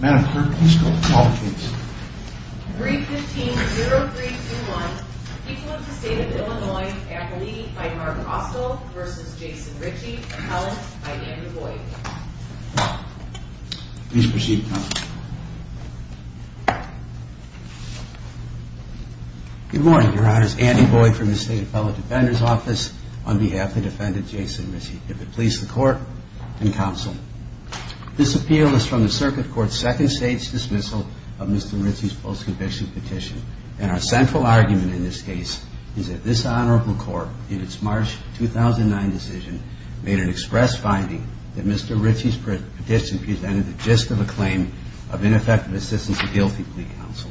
Good morning, your honors. Andy Boyd from the State Appellate Defender's Office on behalf of the defendant, Jason Richey. If it pleases the court and counsel, this appeal is from the Circuit Court of Appellate Defender's Office. This is the second state's dismissal of Mr. Richey's post-conviction petition, and our central argument in this case is that this honorable court, in its March 2009 decision, made an express finding that Mr. Richey's petition presented the gist of a claim of ineffective assistance to guilty plea counsel,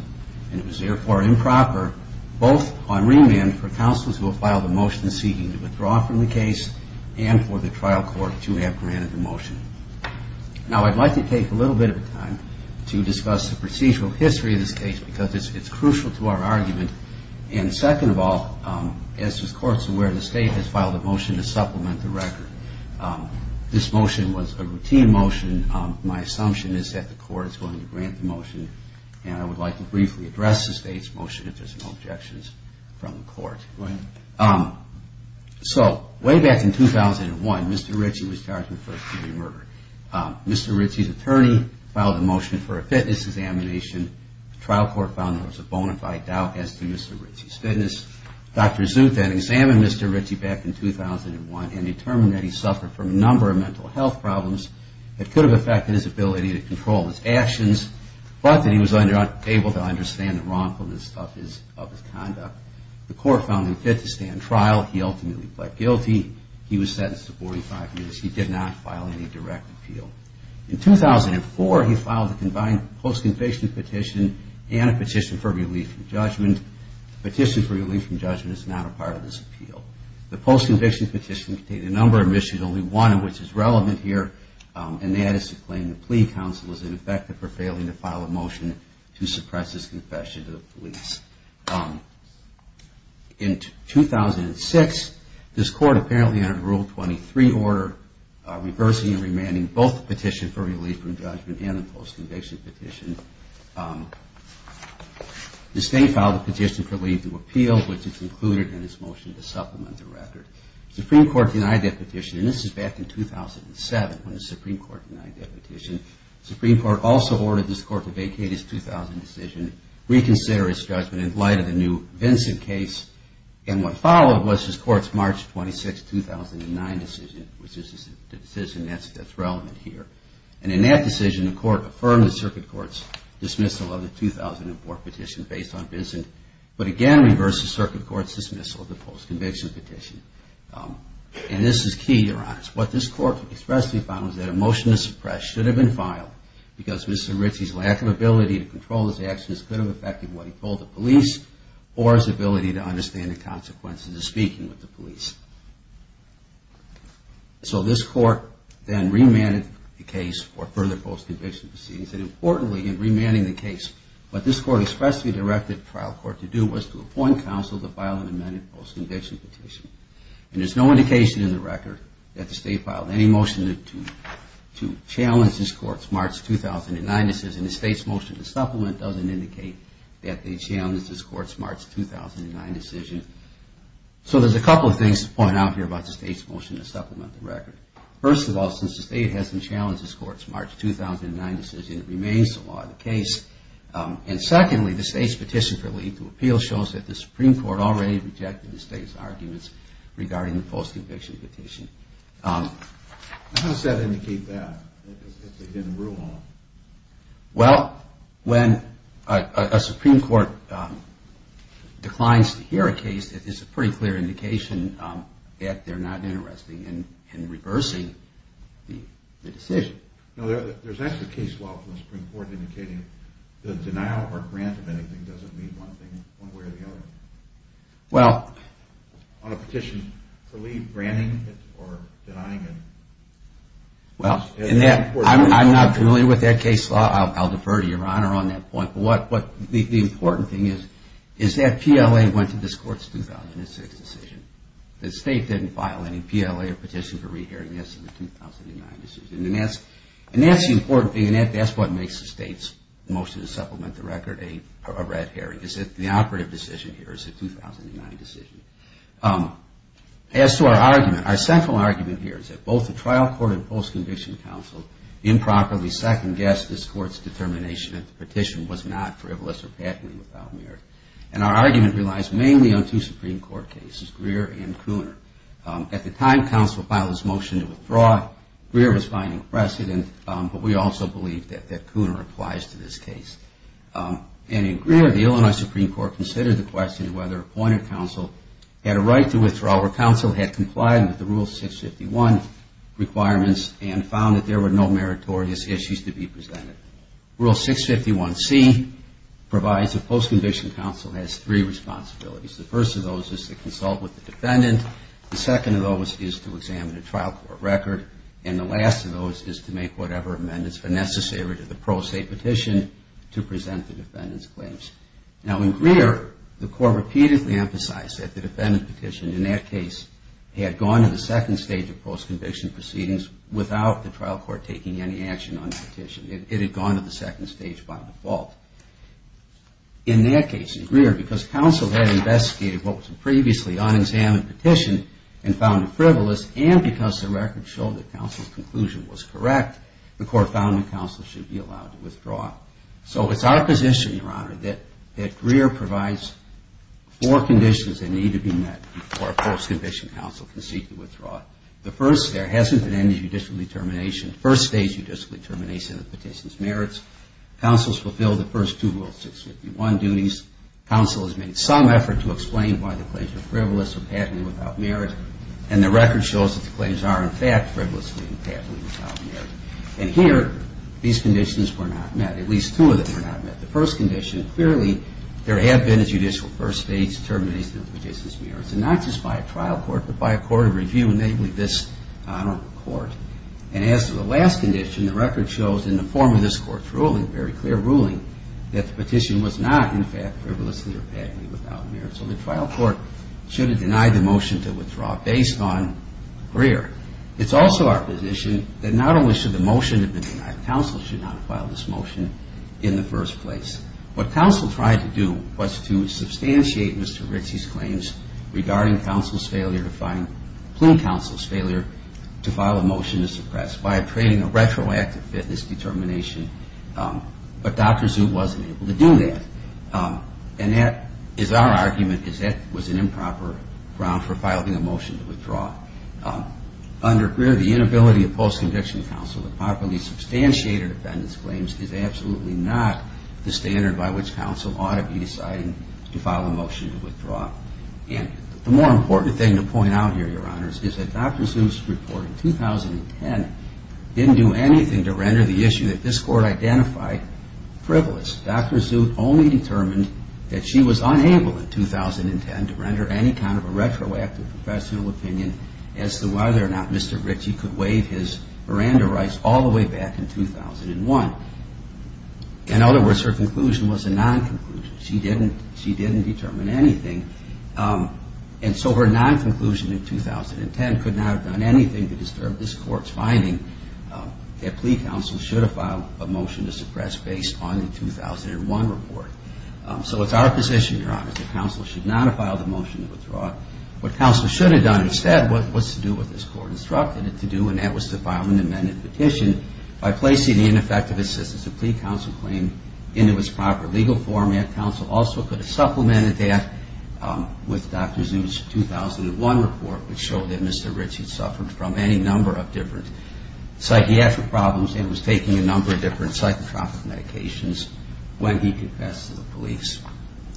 and it was therefore improper both on remand for counselors who have filed a motion seeking to withdraw from the case and for the trial court to have granted the motion. Now, I'd like to take a little bit of time to discuss the procedural history of this case because it's crucial to our argument, and second of all, as the court's aware, the state has filed a motion to supplement the record. This motion was a routine motion. My assumption is that the court is going to grant the motion, and I would like to briefly address the state's motion if there's no objections from the court. So, way back in 2001, Mr. Richey was charged with first degree murder. Mr. Richey's attorney filed a motion for a fitness examination. The trial court found there was a bona fide doubt as to Mr. Richey's fitness. Dr. Zut then examined Mr. Richey back in 2001 and determined that he suffered from a number of mental health problems that could have affected his ability to control his actions, but that he was able to understand the wrongfulness of his conduct. The court found him fit to stay on trial. He ultimately pled guilty. He was sentenced to 45 years. He did not file any direct appeal. In 2004, he filed a combined post-conviction petition and a petition for relief from judgment. Petition for relief from judgment is not a part of this appeal. The post-conviction petition contained a number of issues, only one of which is relevant here, and that is to claim the plea counsel is ineffective for failing to file a motion to suppress his confession to the police. In 2006, this court apparently entered Rule 23 order reversing and remanding both the petition for relief from judgment and the post-conviction petition. The state filed a petition for relief from appeal, which is included in this motion to supplement the record. The Supreme Court denied that petition, and this is back in 2007 when the Supreme Court denied that petition. The Supreme Court also ordered this court to vacate its 2000 decision, reconsider its judgment in light of the new Vincent case, and what followed was this court's March 26, 2009 decision, which is the decision that's relevant here. And in that decision, the court affirmed the circuit court's dismissal of the 2004 petition based on Vincent, but again reversed the circuit court's dismissal of the post-conviction petition. And this is key, Your Honors. What this court expressed to be filed was that a motion to suppress should have been filed because Mr. Ritzey's lack of ability to control his actions could have affected what he told the police or his ability to understand the consequences of speaking with the police. So this court then remanded the case for further post-conviction proceedings, and importantly in remanding the case, what this court expressly directed the trial court to do was to appoint counsel to file an amended post-conviction petition. And there's no indication in the record that the state filed any motion to challenge this court's March 2009 decision. The state's motion to supplement doesn't indicate that they challenged this court's March 2009 decision. So there's a couple of things to point out here about the state's motion to supplement the record. First of all, since the state hasn't challenged this court's March 2009 decision, it remains the law of the case. And secondly, the state's petition for legal appeal shows that the Supreme Court already rejected the state's arguments regarding the post-conviction petition. How does that indicate that, that they didn't rule on it? Well, when a Supreme Court declines to hear a case, it's a pretty clear indication that they're not interested in reversing the decision. No, there's actually a case law from the Supreme Court indicating that the denial or grant of anything doesn't mean one way or the other. Well... On a petition, are we granting it or denying it? Well, I'm not familiar with that case law. I'll defer to your Honor on that point. But the important thing is that PLA went to this court's 2006 decision. The state didn't file any PLA or petition for re-hearing this in the 2009 decision. And that's the important thing, and that's what makes the state's motion to supplement the record a red herring, is that the operative decision here is a 2009 decision. As to our argument, our central argument here is that both the trial court and post-conviction counsel improperly second-guessed this court's determination that the petition was not frivolous or patently without merit. And our argument relies mainly on two Supreme Court cases, Greer and Cooner. At the time counsel filed this motion to withdraw, Greer was finding precedent, but we also believe that Cooner applies to this case. And in Greer, the Illinois Supreme Court considered the question whether appointed counsel had a right to withdraw or counsel had complied with the Rule 651 requirements and found that there were no meritorious issues to be presented. Rule 651C provides that post-conviction counsel has three responsibilities. The first of those is to consult with the defendant. The second of those is to examine a trial court record. And the last of those is to make whatever amendments are necessary to the pro se petition to present the defendant's claims. Now, in Greer, the court repeatedly emphasized that the defendant petitioned in that case had gone to the second stage of post-conviction proceedings without the trial court taking any action on the petition. It had gone to the second stage by default. In that case in Greer, because counsel had investigated what was a previously unexamined petition and found it frivolous, and because the record showed that counsel's conclusion was correct, the court found that counsel should be allowed to withdraw. So it's our position, Your Honor, that Greer provides four conditions that need to be met before a post-conviction counsel can seek to withdraw. The first, there hasn't been any judicial determination, first stage judicial determination of the petition's merits. Counsel has fulfilled the first two Rule 651 duties. Counsel has made some effort to explain why the claims are frivolous or patently without merit. And the record shows that the claims are, in fact, frivolously and patently without merit. And here, these conditions were not met. At least two of them were not met. The first condition, clearly, there have been a judicial first stage determination of the petition's merits. And not just by a trial court, but by a court of review, namely this Honorable Court. And as to the last condition, the record shows in the form of this Court's ruling, a very clear ruling, that the petition was not, in fact, frivolously or patently without merit. So the trial court should have denied the motion to withdraw based on Greer. It's also our position that not only should the motion have been denied, counsel should not have filed this motion in the first place. What counsel tried to do was to substantiate Mr. Ritzey's claims regarding counsel's failure to find, plea counsel's failure to file a motion to suppress by creating a retroactive fitness determination. But Dr. Zut wasn't able to do that. And that is our argument, is that was an improper ground for filing a motion to withdraw. Under Greer, the inability of post-conviction counsel to properly substantiate a defendant's claims is absolutely not the standard by which counsel ought to be deciding to file a motion to withdraw. And the more important thing to point out here, Your Honors, is that Dr. Zut's report in 2010 didn't do anything to render the issue that this Court identified, frivolous. Dr. Zut only determined that she was unable in 2010 to render any kind of a retroactive professional opinion as to whether or not Mr. Ritzey could waive his Miranda rights all the way back in 2001. In other words, her conclusion was a non-conclusion. She didn't determine anything. And so her non-conclusion in 2010 could not have done anything to disturb this Court's finding that plea counsel should have filed a motion to suppress based on the 2001 report. So it's our position, Your Honors, that counsel should not have filed a motion to withdraw. What counsel should have done instead was to do what this Court instructed it to do, and that was to file an amended petition by placing the ineffective assistance of plea counsel claim into its proper legal format. Counsel also could have supplemented that with Dr. Zut's 2001 report, which showed that Mr. Ritzey suffered from any number of different psychiatric problems and was taking a number of different psychotropic medications when he confessed to the police.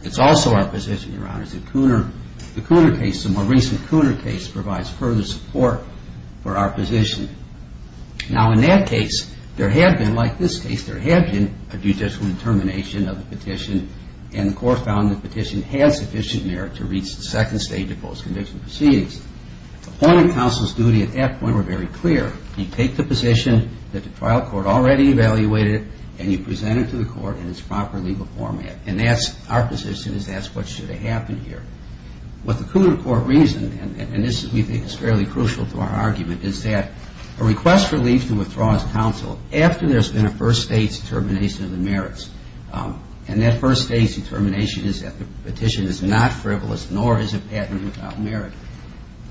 It's also our position, Your Honors, that the Cooner case, the more recent Cooner case, provides further support for our position. Now, in that case, there had been, like this case, there had been a judicial determination of the petition, and the Court found the petition had sufficient merit to reach the second stage of post-conviction proceedings. The point of counsel's duty at that point were very clear. You take the position that the trial court already evaluated, and you present it to the court in its proper legal format. And that's our position, is that's what should have happened here. What the Cooner Court reasoned, and this, we think, is fairly crucial to our argument, is that a request for relief to withdraw as counsel after there's been a first stage determination of the merits, and that first stage determination is that the petition is not frivolous, nor is it patented without merit.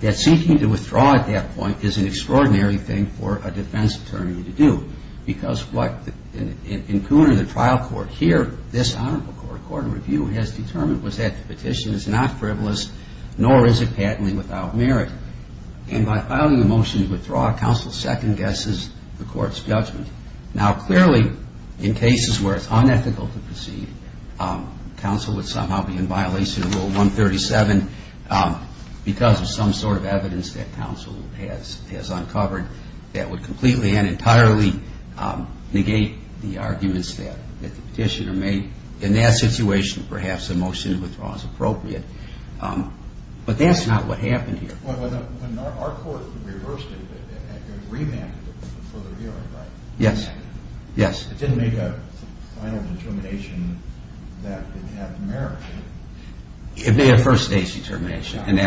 That seeking to withdraw at that point is an extraordinary thing for a defense attorney to do, because what, in Cooner, the trial court here, this Honorable Court of Review, has determined was that the petition is not frivolous, nor is it patently without merit. And by filing the motion to withdraw, counsel second-guesses the court's judgment. Now, clearly, in cases where it's unethical to proceed, counsel would somehow be in violation of Rule 137 because of some sort of evidence that counsel has uncovered that would completely and entirely negate the arguments that the petitioner made. In that situation, perhaps a motion to withdraw is appropriate. But that's not what happened here. When our court reversed it, it remanded it for further hearing, right? Yes. Yes. It didn't make a final determination that it had merit. It made a first stage determination, and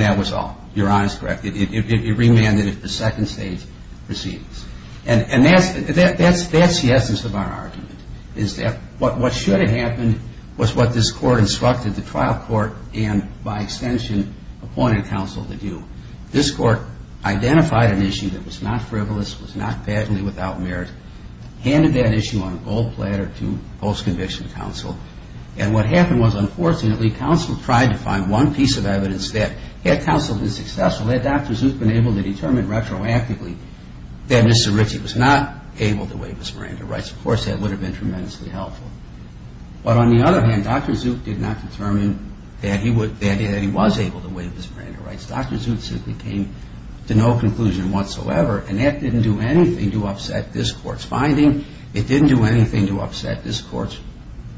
that was all. You're honest, correct. It remanded it for second stage proceedings. And that's the essence of our argument, is that what should have happened was what this court instructed the trial court and, by extension, appointed counsel to do. This court identified an issue that was not frivolous, was not patently without merit, handed that issue on a gold platter to post-conviction counsel, and what happened was, unfortunately, counsel tried to find one piece of evidence that, had counsel been successful, had Dr. Zook been able to determine retroactively that Mr. Ritchie was not able to waive his Miranda rights, of course, that would have been tremendously helpful. But on the other hand, Dr. Zook did not determine that he was able to waive his Miranda rights. Dr. Zook simply came to no conclusion whatsoever, and that didn't do anything to upset this court's finding. It didn't do anything to upset this court's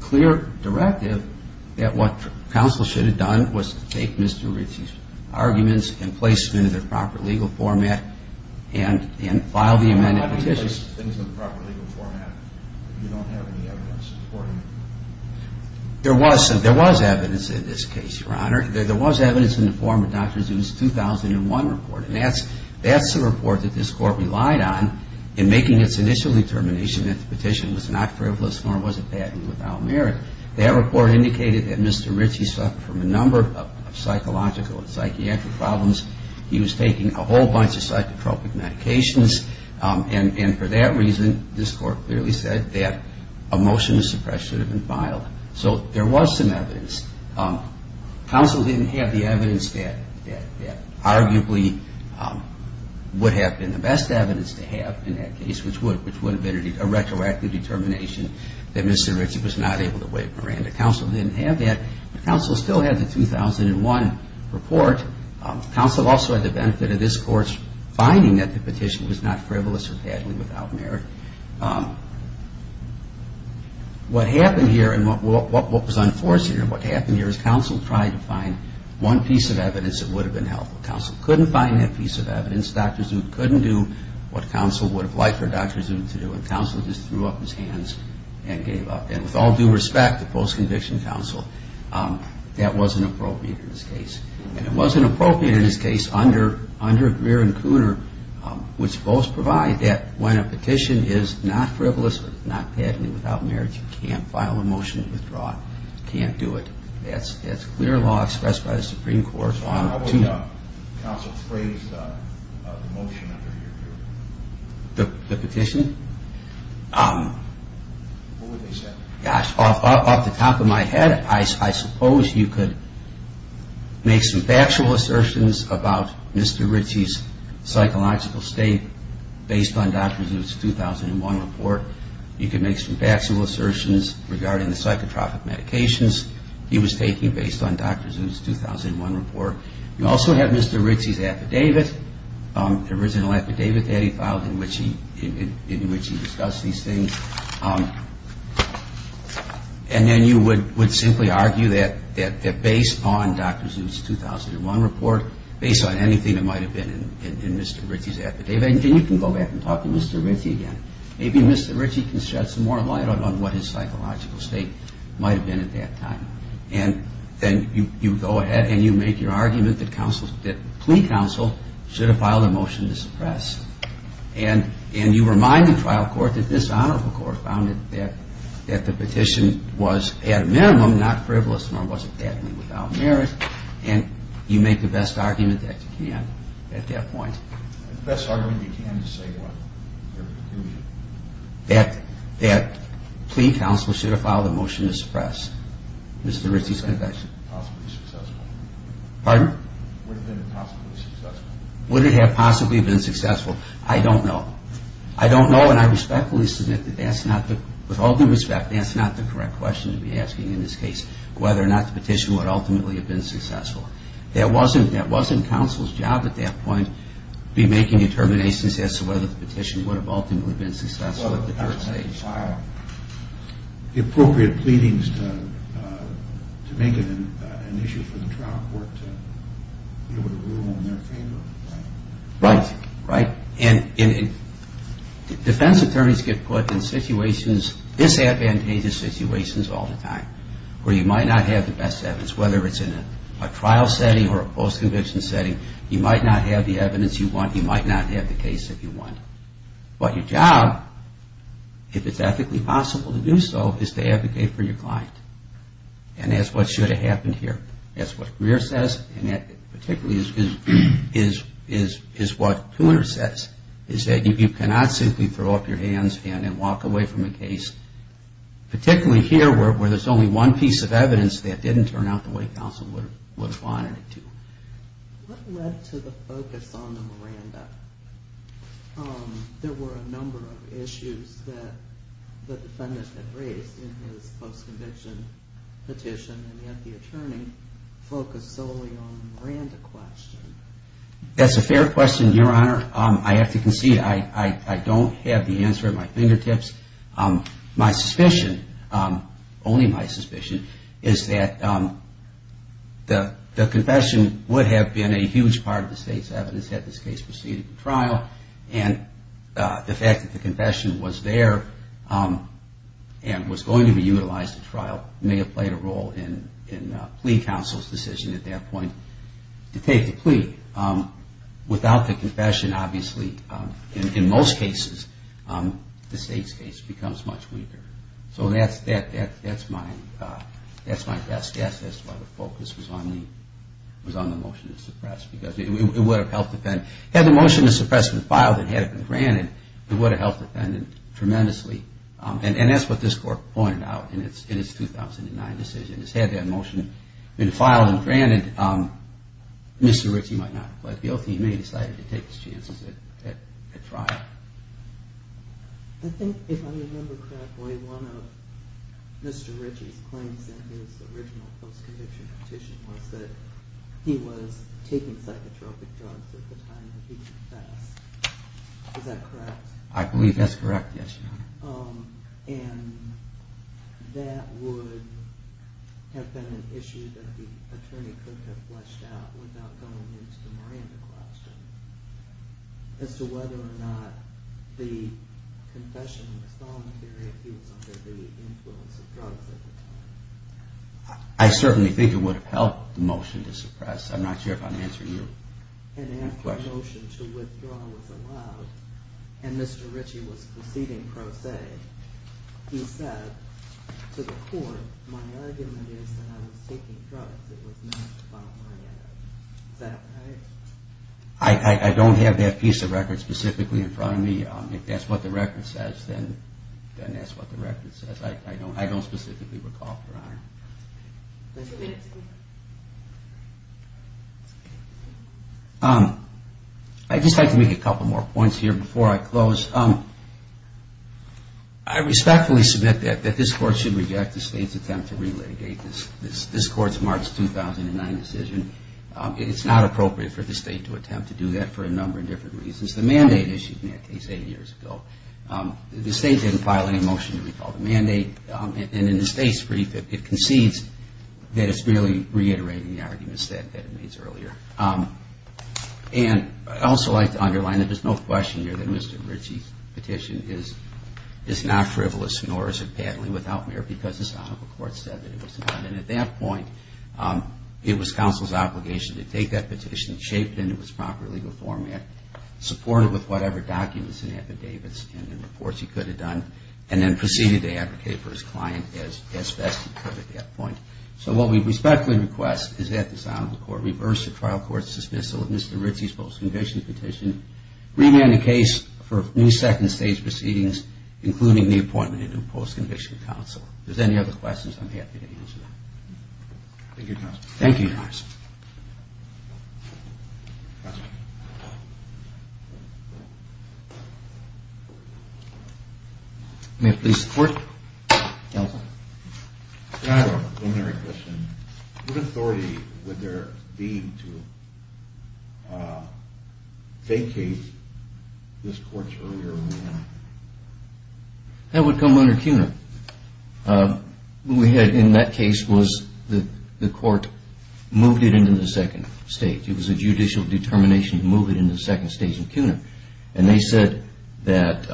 clear directive that what counsel should have done was to take Mr. Ritchie's arguments and place them into their proper legal format and file the amendment petition. There was evidence in this case, Your Honor. There was evidence in the form of Dr. Zook's 2001 report, and that's the report that this court relied on in making its initial determination that the petition was not frivolous, nor was it patently without merit. That report indicated that Mr. Ritchie suffered from a number of psychological and psychiatric problems. He was taking a whole bunch of psychotropic medications, and, of course, was not able to waive his Miranda rights. And for that reason, this court clearly said that a motion to suppress should have been filed. So there was some evidence. Counsel didn't have the evidence that arguably would have been the best evidence to have in that case, which would have been a retroactive determination that Mr. Ritchie was not able to waive Miranda. Counsel didn't have that. Counsel still had the 2001 report. Counsel also had the benefit of this court's finding that the petition was not frivolous or patently without merit. What happened here, and what was unforeseen, what happened here is Counsel tried to find one piece of evidence that would have been helpful. Counsel couldn't find that piece of evidence. Dr. Zook couldn't do what Counsel would have liked for Dr. Zook to do, and Counsel just threw up his hands and gave up. And with all due respect to post-conviction Counsel, that wasn't appropriate in this case. And it wasn't appropriate in this case under Greer and Cooner, which both provide that when a petition is not frivolous or not patently without merit, you can't file a motion to withdraw. You can't do it. That's clear law expressed by the Supreme Court on two... The petition? Gosh, off the top of my head, I suppose you could make some factual assertions about Mr. Ritchie's psychological state based on Dr. Zook's 2001 report. You could make some factual assertions regarding the psychotropic medications he was taking based on Dr. Zook's 2001 report. You also have Mr. Ritchie's affidavit. The original affidavit that he filed in which he discussed these things. And then you would simply argue that based on Dr. Zook's 2001 report, based on anything that might have been in Mr. Ritchie's affidavit, and you can go back and talk to Mr. Ritchie again. Maybe Mr. Ritchie can shed some more light on what his psychological state might have been at that time. And then you go ahead and you make your argument that plea counsel should have filed a motion to suppress. And you remind the trial court that this honorable court found that the petition was at a minimum not frivolous nor was it patently without merit. And you make the best argument that you can at that point. The best argument you can to say what? That plea counsel should have filed a motion to suppress Mr. Ritchie's conviction. Would it have possibly been successful? Would it have possibly been successful? I don't know. I don't know and I respectfully submit that that's not, with all due respect, that's not the correct question to be asking in this case. Whether or not the petition would ultimately have been successful. That wasn't counsel's job at that point to be making determinations as to whether the petition would have ultimately been successful at the first stage. The appropriate pleadings to make it an issue for the trial court to be able to rule in their favor. Right. And defense attorneys get put in situations, disadvantageous situations all the time where you might not have the best evidence. Whether it's in a trial setting or a post-conviction setting, you might not have the evidence you want, you might not have the case that you want. But your job, if it's ethically possible to do so, is to advocate for your client. And that's what should have happened here. That's what Greer says and that particularly is what Tooner says, is that you cannot simply throw up your hands and walk away from a case, particularly here where there's only one piece of evidence that didn't turn out the way you wanted it to. What led to the focus on the Miranda? There were a number of issues that the defendant had raised in his post-conviction petition and yet the attorney focused solely on the Miranda question. That's a fair question, Your Honor. I have to concede, I don't have the answer at my fingertips. My suspicion, only my suspicion, is that the confession would have been a huge part of the state's evidence had this case proceeded in trial. And the fact that the confession was there and was going to be utilized in trial may have played a role in plea counsel's decision at that point to take the plea. Without the confession, obviously, in most cases, the state's case becomes much weaker. So that's my best guess as to why the focus was on the motion to suppress, because it would have helped the defendant. Had the motion to suppress been filed and had it been granted, it would have helped the defendant tremendously. And that's what this Court pointed out in its 2009 decision. Had that motion been filed and granted, Mr. Ritchie might not have pled guilty. He may have decided to take his chances at trial. I think if I remember correctly, one of Mr. Ritchie's claims in his original post-conviction petition was that he was taking psychotropic drugs at the time of his confess. Is that correct? I believe that's correct, yes, Your Honor. Would that have been an issue that the attorney could have fleshed out without going into the Miranda question as to whether or not the confession was voluntary if he was under the influence of drugs at the time? I certainly think it would have helped the motion to suppress. I'm not sure if I'm answering you. And after the motion to withdraw was allowed, and Mr. Ritchie was proceeding pro se, he said to the Court, my argument is that I was taking drugs. It was not about Miranda. Is that correct? I don't have that piece of record specifically in front of me. If that's what the record says, then that's what the record says. I don't specifically recall, Your Honor. I'd just like to make a couple more points here before I close. I respectfully submit that this Court should reject the State's attempt to re-litigate this Court's March 2009 decision. It's not appropriate for the State to attempt to do that for a number of different reasons. The mandate issued in that case eight years ago, the State didn't file any motion to recall the mandate, and in the State's brief, it concedes that it's merely reiterating the arguments that it made earlier. And I'd also like to underline that there's no question here that Mr. Ritchie's petition is not frivolous, nor is it badly without merit, because the Sonoma Court said that it was not. And at that point, it was counsel's obligation to take that petition, shape it into its proper legal format, support it with whatever documents and affidavits and reports he could have done, and then proceed to advocate for his client as best he could at that point. So what we respectfully request is that the Sonoma Court reverse the trial court's dismissal of Mr. Ritchie's post-conviction petition, remand the case for new second stage proceedings, including the appointment of a new post-conviction counsel. If there's any other questions, I'm happy to answer them. Thank you, Your Honor. May it please the Court. What authority would there be to vacate this Court's earlier remand? That would come under CUNA. What we had in that case was the Court moved it into the second stage. It was a judicial determination to move it into the second stage in CUNA. And they said that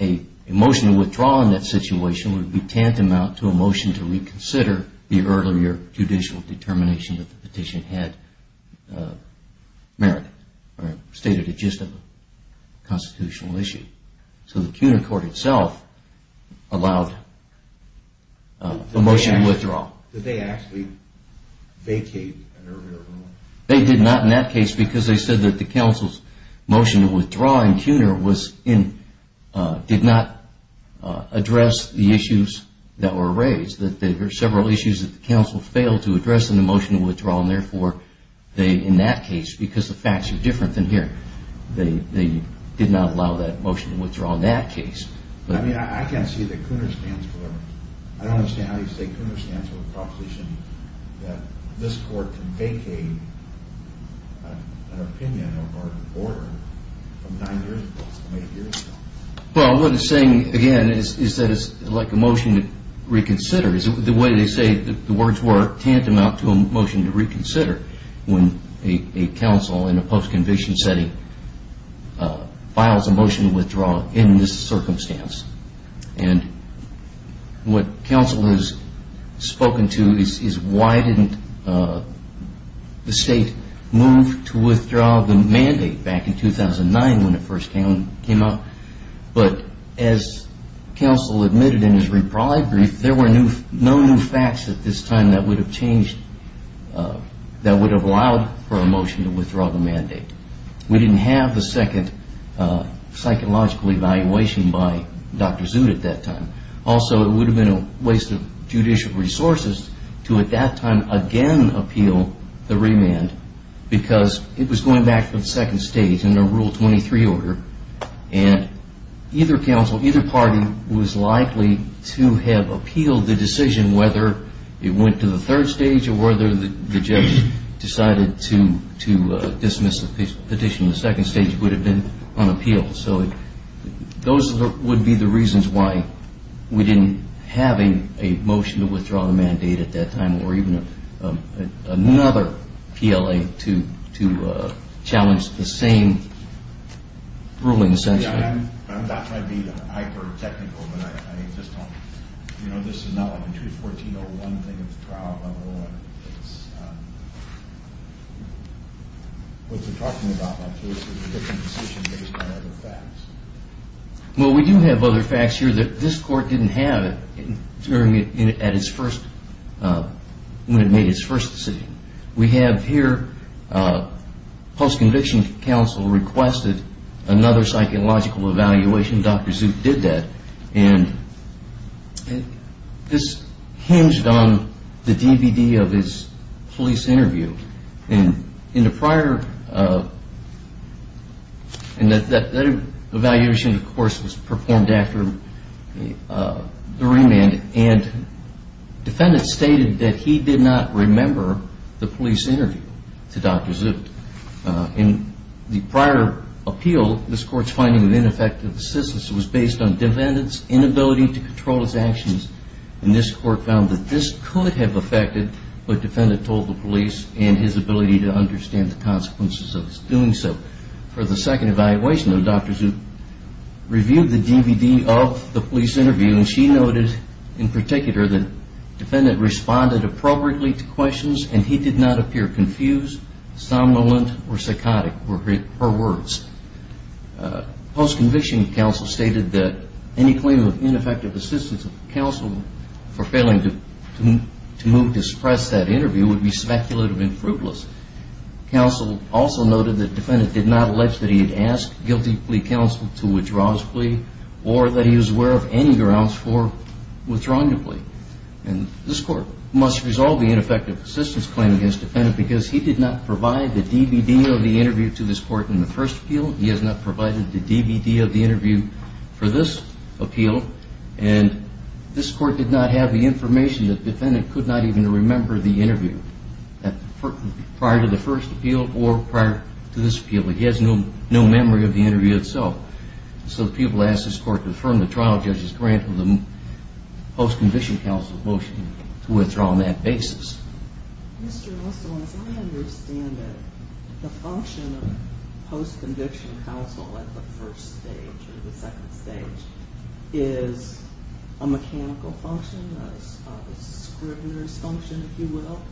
a motion to withdraw in that situation would be tantamount to a motion to reconsider the earlier judicial determination that the petition had merited. So the CUNA Court itself allowed a motion to withdraw. Did they actually vacate an earlier remand? They did not in that case because they said that the counsel's motion to withdraw in CUNA did not address the issues that were raised. There were several issues that the counsel failed to address in the motion to withdraw. And therefore, in that case, because the facts are different than here, they did not allow that motion to withdraw in that case. I mean, I can't see that CUNA stands for... I don't understand how you say CUNA stands for a proposition that this Court can vacate an opinion or an order from nine years ago, eight years ago. Well, what it's saying, again, is that it's like a motion to reconsider. The way they say the words were tantamount to a motion to reconsider when a counsel in a post-conviction setting files a motion to withdraw in this circumstance. And what counsel has spoken to is why didn't the state move to withdraw the mandate back in 2009 when it first came out. But as counsel admitted in his reprieve brief, there were no new facts at this time that would have changed, that would have allowed for a motion to withdraw the mandate. We didn't have the second psychological evaluation by Dr. Zut at that time. Also, it would have been a waste of judicial resources to, at that time, again appeal the remand because it was going back to the second stage in the Rule 23 order. And either counsel, either party was likely to have appealed the decision whether it went to the third stage or whether the judge decided to dismiss the petition. The second stage would have been unappealed. So those would be the reasons why we didn't have a motion to withdraw the mandate at that time or even another PLA to challenge the same... Yeah, I'm not trying to be hyper-technical, but I just don't... You know, this is not like a 214.01 thing at the trial level. What you're talking about, Dr. Zut, is a different decision based on other facts. Well, we do have other facts here that this Court didn't have when it made its first decision. We have here post-conviction counsel requested another psychological evaluation. Dr. Zut did that, and this hinged on the DVD of his police interview. And in the prior... And that evaluation, of course, was performed after the remand. And defendants stated that he did not remember the police interview to Dr. Zut. In the prior appeal, this Court's finding of ineffective assistance was based on defendants' inability to control his actions, and this Court found that this could have affected what defendant told the police and his ability to understand the consequences of his doing so. For the second evaluation, Dr. Zut reviewed the DVD of the police interview, and she noted in particular that defendant responded appropriately to questions and he did not appear confused, somnolent, or psychotic were her words. Post-conviction counsel stated that any claim of ineffective assistance of counsel for failing to move to suppress that interview would be speculative and fruitless. Counsel also noted that defendant did not allege that he had asked guilty plea counsel to withdraw his plea or that he was aware of any grounds for withdrawing a plea. And this Court must resolve the ineffective assistance claim against defendant because he did not provide the DVD of the interview to this Court in the first appeal, he has not provided the DVD of the interview for this appeal, and this Court did not have the information that defendant could not even remember the interview prior to the first appeal or prior to this appeal. He has no memory of the interview itself. So the people asked this Court to affirm the trial judge's grant of the post-conviction counsel's motion to withdraw on that basis. Mr. Wessel, as I understand it, the function of post-conviction counsel at the first stage or the second stage is a mechanical function, a scrivener's function, if you will,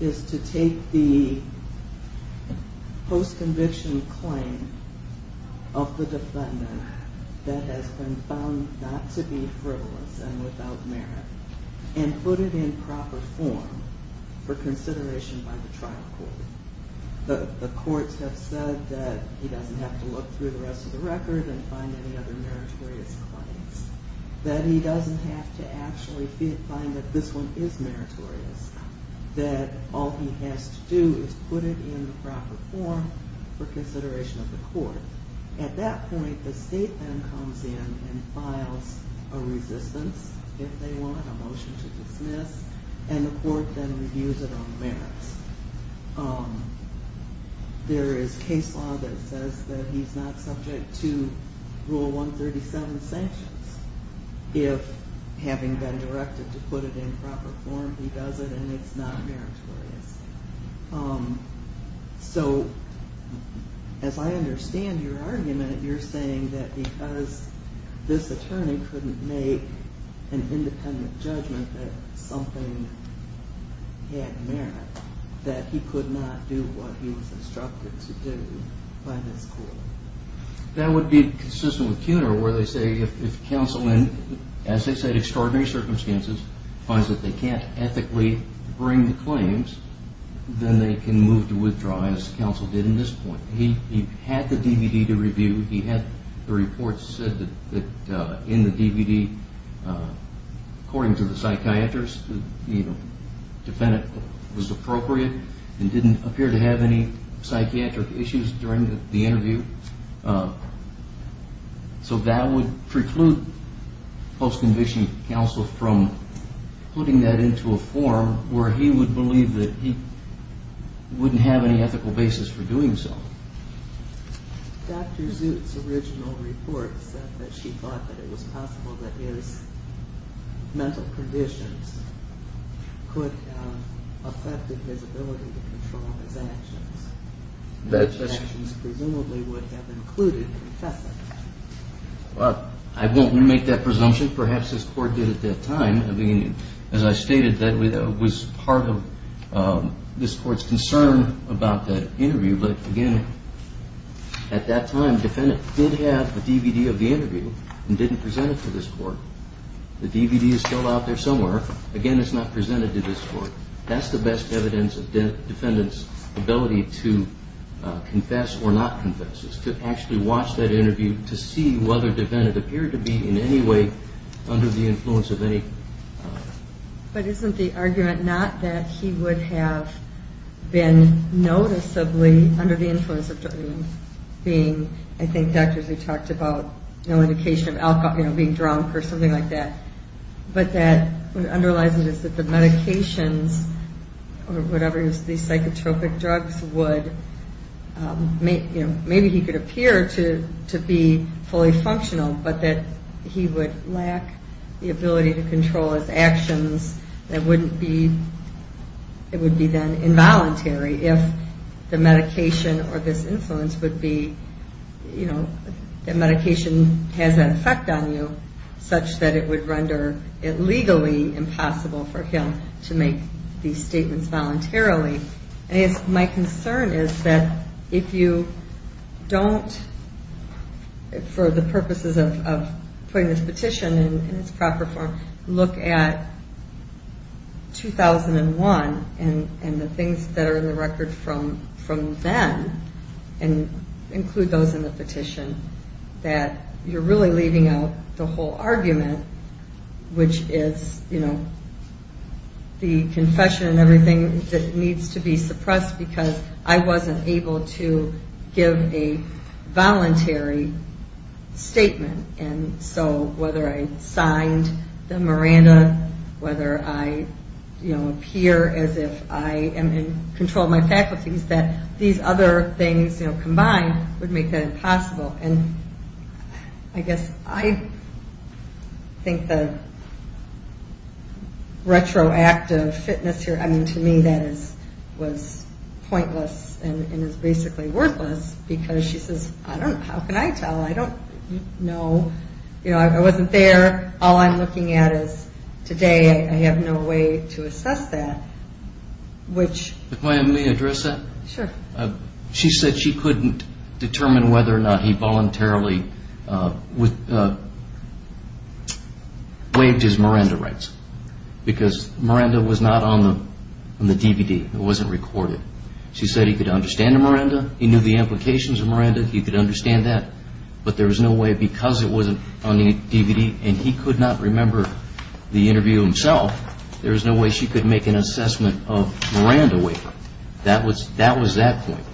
is to take the post-conviction claim of the defendant that has been found not to be frivolous and without merit and put it in proper form for consideration by the trial court. The courts have said that he doesn't have to look through the rest of the record and find any other meritorious claims, that he doesn't have to actually find that this one is meritorious, that all he has to do is put it in the proper form for consideration of the court. At that point, the state then comes in and files a resistance, if they want a motion to dismiss, and the court then reviews it on merits. There is case law that says that he's not subject to Rule 137 sanctions. If, having been directed to put it in proper form, he does it and it's not meritorious. So, as I understand your argument, you're saying that because this attorney couldn't make an independent judgment that something had merit, that he could not do what he was instructed to do by this court. That would be consistent with Kuhner, where they say if counsel, as they said, extraordinary circumstances, finds that they can't ethically bring the claims, then they can move to withdraw, as counsel did in this point. He had the DVD to review, he had the report said that in the DVD, according to the psychiatrist, the defendant was appropriate and didn't appear to have any psychiatric issues during the interview. So, that would preclude post-conviction counsel from putting that into a form where he would believe that he wouldn't have any ethical basis for doing so. Dr. Zut's original report said that she thought that it was possible that his mental conditions could have affected his ability to control his actions. I won't remake that presumption. Perhaps this court did at that time. I mean, as I stated, that was part of this court's concern about that interview. But again, at that time, the defendant did have the DVD of the interview and didn't present it to this court. The DVD is still out there somewhere. Again, it's not presented to this court. That's the best evidence of the defendant's ability to confess or not confess, is to actually watch that interview to see whether the defendant appeared to be in any way under the influence of any... But isn't the argument not that he would have been noticeably under the influence of being, I think Dr. Zut talked about, you know, indication of alcohol, you know, being drunk or something like that, but that what underlies it is that the medications or whatever these psychotropic drugs would, you know, maybe he could appear to be fully functional, but that he would lack the ability to control his actions that wouldn't be, it would be then involuntary if the medication or this influence would be, you know, the medication has an effect on you, such that it would render it legally impossible for him to make these statements voluntarily. My concern is that if you don't, for the purposes of putting this petition in its proper form, look at 2001 and the things that are in the record from then, and include those in the petition, that you're really leaving out the whole argument, which is, you know, the confession and everything that needs to be suppressed, because I wasn't able to give a voluntary statement. And so whether I signed the Miranda, whether I, you know, appear as if I am in control of my faculties, that these other things, you know, combined would make that impossible. And I guess I think the retroactive fitness here, I mean, to me that was pointless and is basically worthless, because she says, I don't know, how can I tell? I don't know. You know, I wasn't there. All I'm looking at is today. I have no way to assess that. If I may address that? Sure. She said she couldn't determine whether or not he voluntarily waived his Miranda rights, because Miranda was not on the DVD. It wasn't recorded. She said he could understand a Miranda. He knew the implications of Miranda. He could understand that. But there was no way, because it wasn't on the DVD, and he could not remember the interview himself, there was no way she could make an assessment of Miranda waiver. That was that point.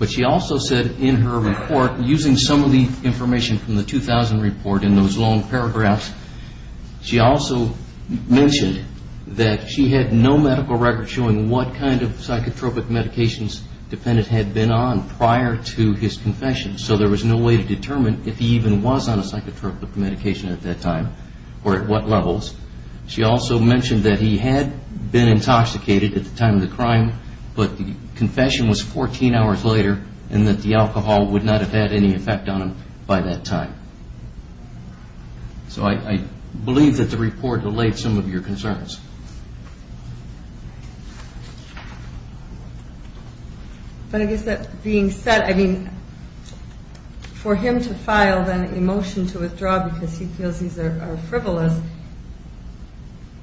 But she also said in her report, using some of the information from the 2000 report in those long paragraphs, she also mentioned that she had no medical record showing what kind of psychotropic medications the defendant had been on prior to his confession. So there was no way to determine if he even was on a psychotropic medication at that time, or at what levels. She also mentioned that he had been intoxicated at the time of the crime, but the confession was 14 hours later, and that the alcohol would not have had any effect on him by that time. So I believe that the report delayed some of your concerns. But I guess that being said, I mean, for him to file an emotion to withdraw because he feels he's a frivolous,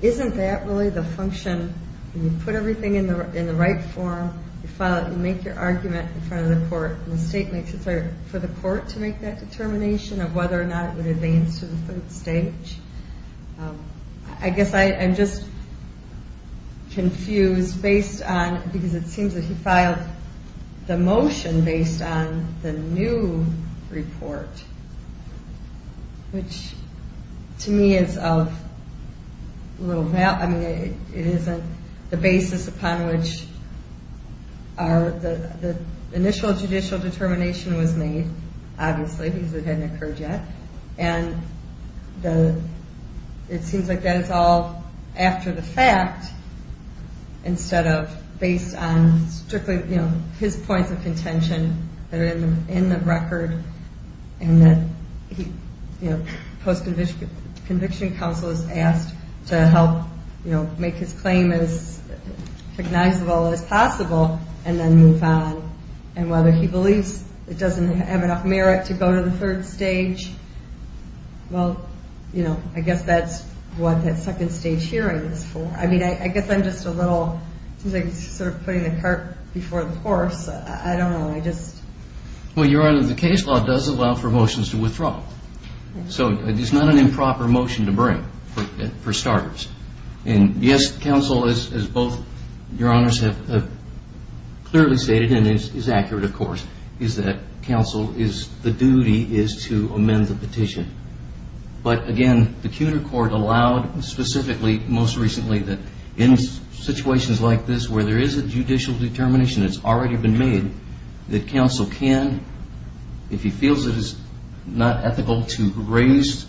isn't that really the function, when you put everything in the right form, you file it, you make your argument in front of the court, and the state makes it for the court to make that determination of whether or not it would advance to the third stage? I guess I'm just confused, because it seems that he filed the motion based on the new report, which to me is of little value. I mean, it isn't the basis upon which the initial judicial determination was made, obviously, because it hadn't occurred yet. And it seems like that is all after the fact, instead of based on strictly his points of contention that are in the record, and that post-conviction counsel is asked to help make his claim as recognizable as possible, and then move on. And whether he believes it doesn't have enough merit to go to the third stage, well, I guess that's what that second stage hearing is for. I mean, I guess I'm just a little, it seems like he's sort of putting the cart before the horse. I don't know, I just... Well, Your Honor, the case law does allow for motions to withdraw. So it's not an improper motion to bring, for starters. And yes, counsel, as both Your Honors have clearly stated, and it is accurate, of course, is that counsel, the duty is to amend the petition. But again, the CUNY court allowed specifically, most recently, that in situations like this where there is a judicial determination that's already been made, that counsel can, if he feels it is not ethical to raise,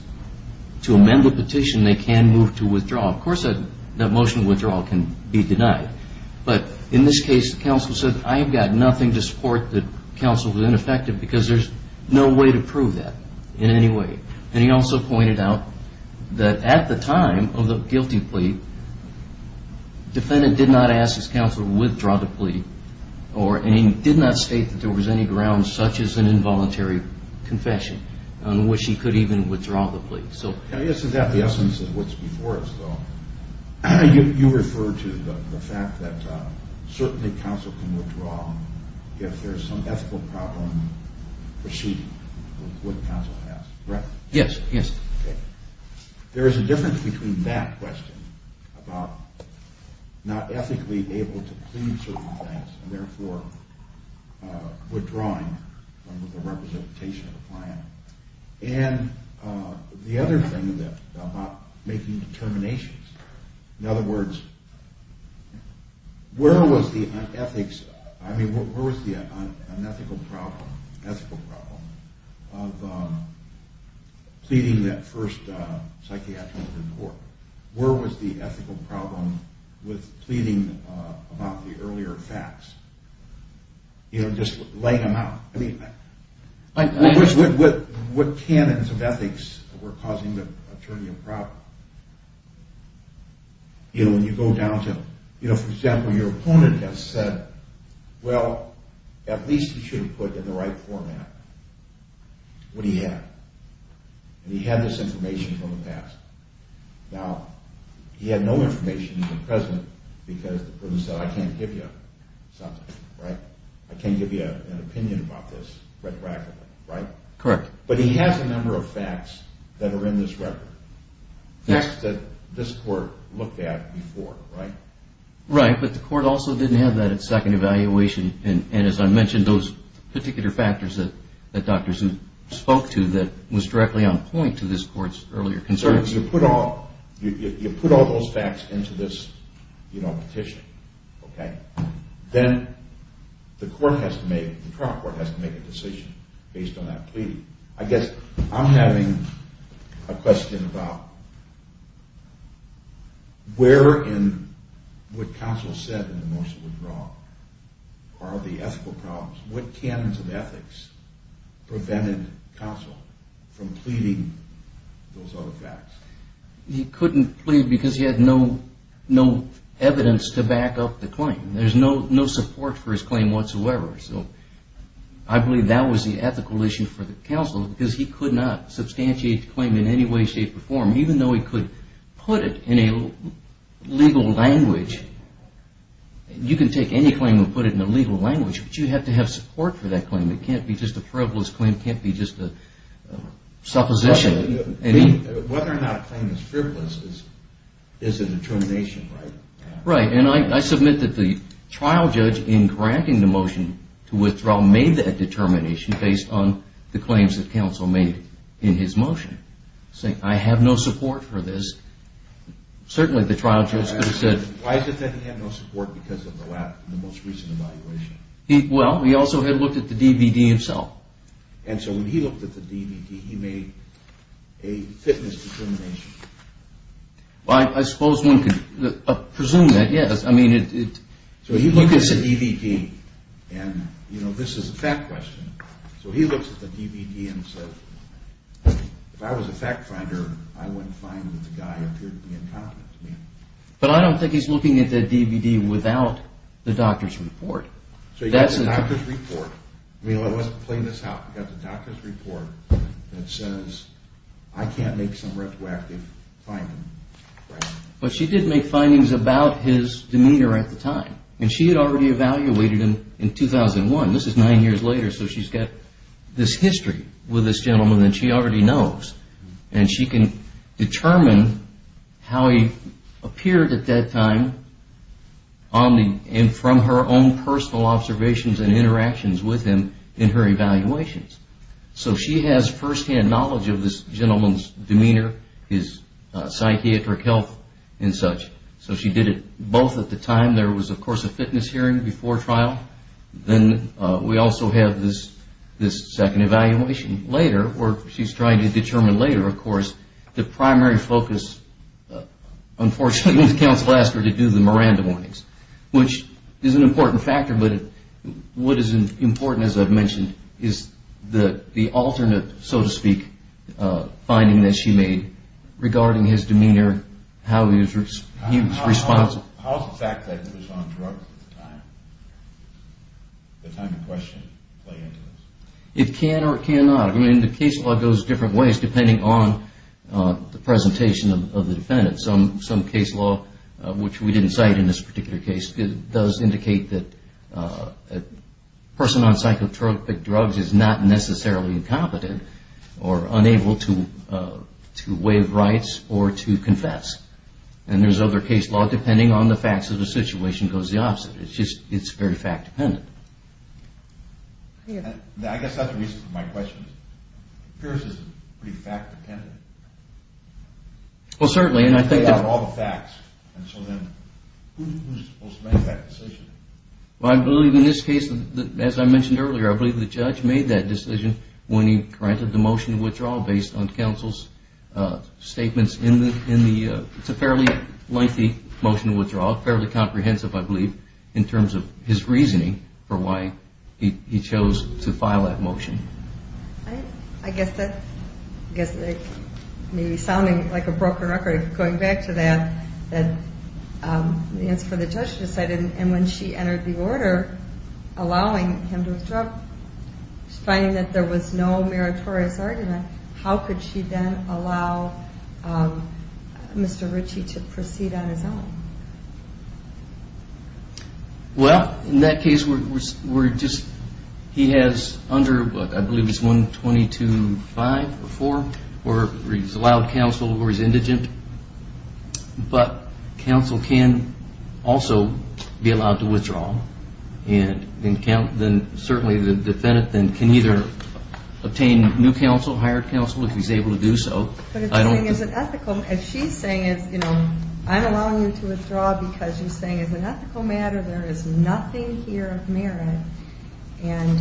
to amend the petition, they can move to withdraw. Of course, that motion of withdrawal can be denied. But in this case, counsel said, I've got nothing to support that counsel was ineffective because there's no way to prove that in any way. And he also pointed out that at the time of the guilty plea, defendant did not ask his counsel to withdraw the plea, and he did not state that there was any grounds such as an involuntary confession on which he could even withdraw the plea. You refer to the fact that certainly counsel can withdraw if there's some ethical problem proceeding with what counsel has, correct? Yes. There is a difference between that question about not ethically able to plead certain things and therefore withdrawing under the representation of a client and the other thing about making determinations. In other words, where was the ethics, I mean, where was the unethical problem, ethical problem, of pleading that first psychiatric report? Where was the ethical problem with pleading about the earlier facts? You know, just laying them out. What canons of ethics were causing the attorney a problem? You know, when you go down to, you know, for example, your opponent has said, well, at least he should have put in the right format what he had. And he had this information from the past. Now, he had no information even present because the person said I can't give you something, right? I can't give you an opinion about this retroactively, right? Correct. But he has a number of facts that are in this record, facts that this court looked at before, right? Right, but the court also didn't have that at second evaluation. And as I mentioned, those particular factors that Dr. Zook spoke to that was directly on point to this court's earlier concerns. You put all those facts into this, you know, petition, okay? Then the court has to make, the trial court has to make a decision based on that pleading. I guess I'm having a question about where in what counsel said in the motion withdrawal are the ethical problems? What canons of ethics prevented counsel from pleading those other facts? He couldn't plead because he had no evidence to back up the claim. There's no support for his claim whatsoever. I believe that was the ethical issue for the counsel because he could not substantiate the claim in any way, shape, or form. Even though he could put it in a legal language. You can take any claim and put it in a legal language, but you have to have support for that claim. It can't be just a frivolous claim, it can't be just a supposition. Whether or not a claim is frivolous is a determination, right? Right, and I submit that the trial judge in granting the motion to withdraw made that determination based on the claims that counsel made in his motion. Saying, I have no support for this. Why is it that he had no support because of the most recent evaluation? Well, he also had looked at the DVD himself. And so when he looked at the DVD, he made a fitness determination? I suppose one could presume that, yes. So he looked at the DVD, and this is a fact question, so he looks at the DVD and says, if I was a fact finder, I wouldn't find that the guy appeared to be incompetent to me. But I don't think he's looking at that DVD without the doctor's report. So he got the doctor's report. I mean, let's play this out. He got the doctor's report that says, I can't make some retroactive finding. But she did make findings about his demeanor at the time, and she had already evaluated him in 2001. This is nine years later, so she's got this history with this gentleman that she already knows. And she can determine how he appeared at that time from her own personal observations and interactions with him in her evaluations. So she has first-hand knowledge of this gentleman's demeanor, his psychiatric health and such. So she did it both at the time. There was, of course, a fitness hearing before trial. Then we also have this second evaluation later where she's trying to determine later, of course, the primary focus, unfortunately, with Counsel Lasker to do the Miranda warnings, which is an important factor. But what is important, as I've mentioned, is the alternate, so to speak, finding that she made regarding his demeanor, how he was responsive. How does the fact that he was on drugs at the time, the time to question, play into this? It can or it cannot. I mean, the case law goes different ways depending on the presentation of the defendant. Some case law, which we didn't cite in this particular case, does indicate that a person on psychotropic drugs is not necessarily incompetent or unable to waive rights or to confess. And there's other case law, depending on the facts of the situation, goes the opposite. It's just very fact-dependent. I guess that's the reason for my question. Pierce is pretty fact-dependent. Well, certainly, and I think... You've laid out all the facts, and so then who's supposed to make that decision? Well, I believe in this case, as I mentioned earlier, I believe the judge made that decision when he granted the motion to withdraw based on Counsel's statements in the... It's a fairly lengthy motion to withdraw, fairly comprehensive, I believe, in terms of his reasoning for why he chose to file that motion. I guess that may be sounding like a broken record. Going back to that, the answer for the judge is I didn't. And when she entered the order allowing him to withdraw, finding that there was no meritorious argument, how could she then allow Mr. Ritchie to proceed on his own? Well, in that case, we're just... He has under, I believe it's 122.5 or 4, where he's allowed Counsel where he's indigent. But Counsel can also be allowed to withdraw, and then certainly the defendant can either obtain new Counsel, hired Counsel, if he's able to do so. But if the thing isn't ethical, as she's saying is, you know, I'm allowing you to withdraw because she's saying as an ethical matter, there is nothing here of merit, and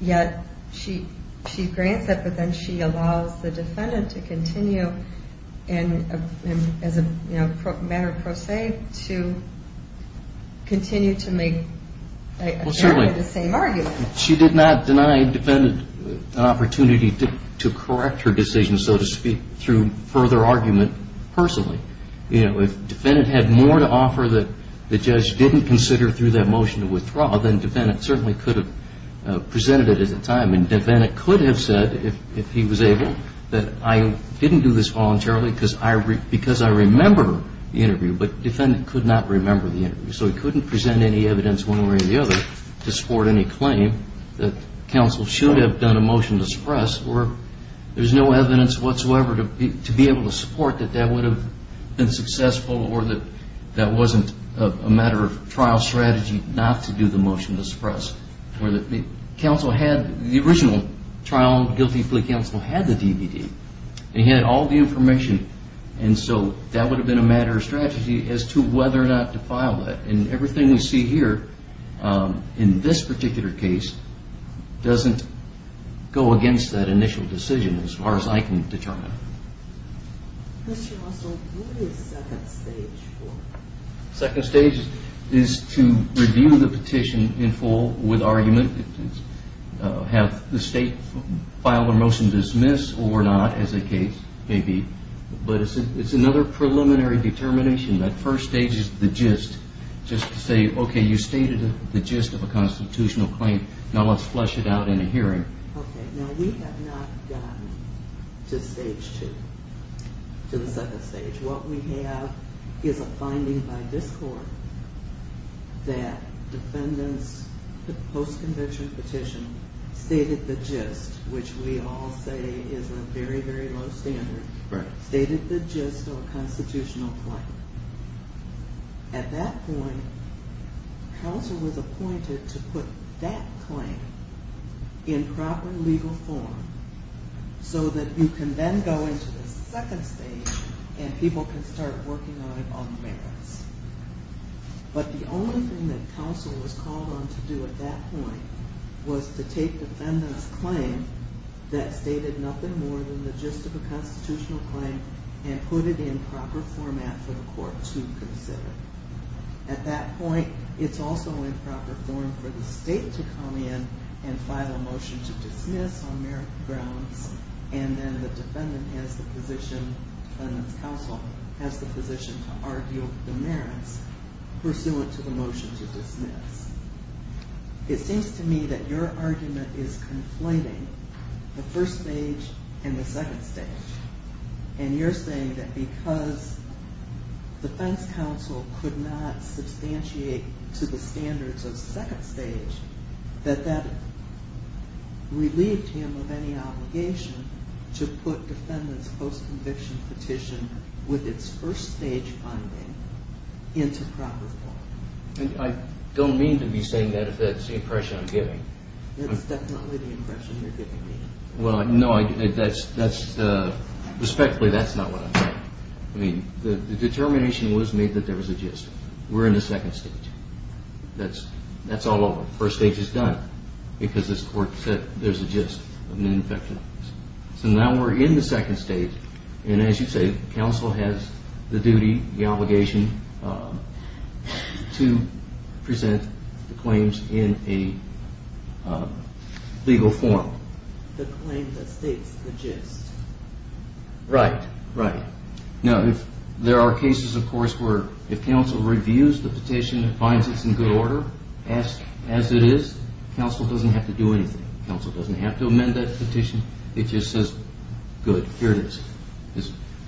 yet she grants it, but then she allows the defendant to continue to make the same argument. She did not deny the defendant an opportunity to correct her decision, so to speak, through further argument personally. You know, if the defendant had more to offer that the judge didn't consider through that motion to withdraw, then the defendant certainly could have presented it at the time, and the defendant could have said, if he was able, that I didn't do this voluntarily because I remember the interview, but the defendant could not remember the interview. So he couldn't present any evidence one way or the other to support any claim that Counsel should have done a motion to suppress, or there's no evidence whatsoever to be able to support that that would have been successful or that that wasn't a matter of trial strategy not to do the motion to suppress. Counsel had the original trial, guilty plea counsel had the DVD and he had all the information, and so that would have been a matter of strategy as to whether or not to file it, and everything we see here in this particular case doesn't go against that initial decision as far as I can determine. Mr. Russell, what is second stage for? Second stage is to review the petition in full with argument, have the state file a motion to dismiss or not as a case, maybe, but it's another preliminary determination. That first stage is the gist just to say, okay, you stated the gist of a constitutional claim, now let's not go to stage two, to the second stage. What we have is a finding by this court that defendants post-convention petition stated the gist, which we all say is a very, very low standard, stated the gist of a constitutional claim. At that point, Houser was appointed to put that claim in proper legal form so that you can then go into the second stage and people can start working on it on merits. But the only thing that counsel was called on to do at that point was to take defendant's claim that stated nothing more than the gist of a constitutional claim and put it in proper format for the court to consider. At that point, it's also in proper form for the state to come in and file a motion to dismiss on merit grounds and then the defendant has the position, defendant's counsel has the position to argue the merits pursuant to the motion to dismiss. It seems to me that your argument is conflating the first stage and the second stage and you're saying that because defense counsel could not substantiate to the standards of second stage that that relieved him of any obligation to put defendant's post-conviction petition with its first stage funding into proper form. I don't mean to be saying that if that's the impression I'm getting. That's definitely the impression you're giving me. Respectfully, that's not what I'm saying. The determination was made that there was a gist. We're in the second stage. That's all over. First stage is done because this court said there's a gist of an infection. So now we're in the second stage and as you say, counsel has the duty, the obligation to present the claims in a legal form. The claim that states the gist. Right, right. Now there are cases of course where if counsel reviews the petition and finds it's in good order as it is, counsel doesn't have to do anything. Counsel doesn't have to amend that petition. It just says good, here it is.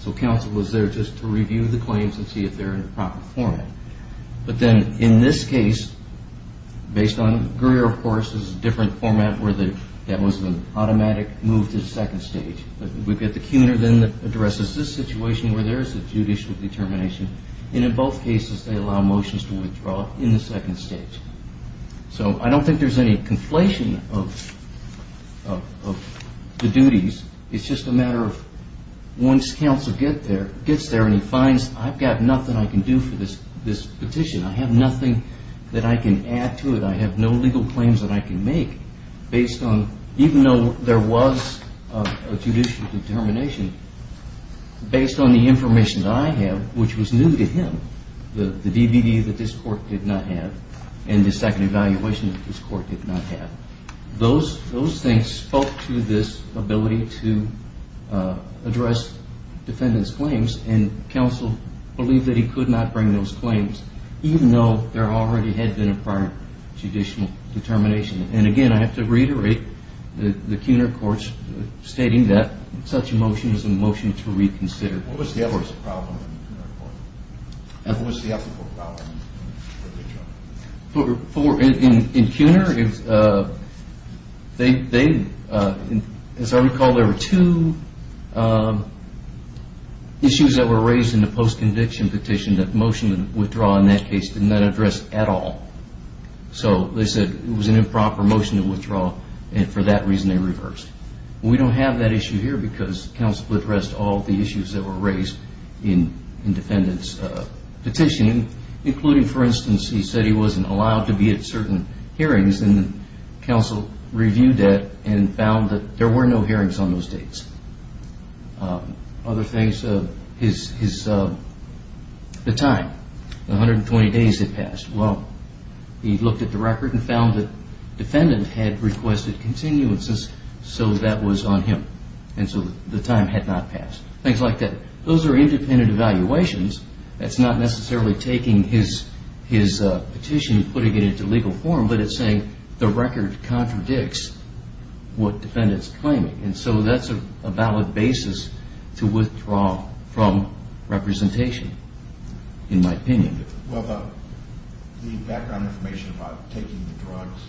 So counsel was there just to review the claims and see if they're in the proper format. But then in this case, based on Greer of course, there's a different format where that was an automatic move to the second stage. We've got the Cunar then that addresses this situation where there is a judicial determination. And in both cases they allow motions to withdraw in the second stage. So I don't think there's any conflation of the duties. It's just a matter of once counsel gets there and he finds I've got nothing I can do for this petition. I have nothing that I can add to it. I have no legal claims that I can make based on, even though there was a judicial determination, based on the information that I have, which was new to him, the DVD that this court did not have, and the second evaluation that this court did not have. Those things spoke to this ability to address defendant's claims. And counsel believed that he could not bring those claims, even though there already had been a prior judicial determination. And again, I have to reiterate the Cunar courts stating that such a motion was a motion to reconsider. In Cunar, as I recall, there were two issues that were raised in the post-conviction petition that motion to withdraw in that case did not address at all. So they said it was an improper motion to withdraw and for that reason they reversed. We don't have that issue here because counsel addressed all the issues that were raised in defendant's petition, including, for instance, he said he wasn't allowed to be at certain hearings and counsel reviewed that and found that there were no hearings on those dates. Other things, the time, 120 days had passed. Well, he looked at the record and found that defendant had requested continuances, so that was on him. And so the time had not passed. Things like that. Those are independent evaluations. That's not necessarily taking his petition and putting it into legal form, but it's saying the record contradicts what defendant's claiming. And so that's a valid basis to withdraw from representation, in my opinion. Well, the background information about taking the drugs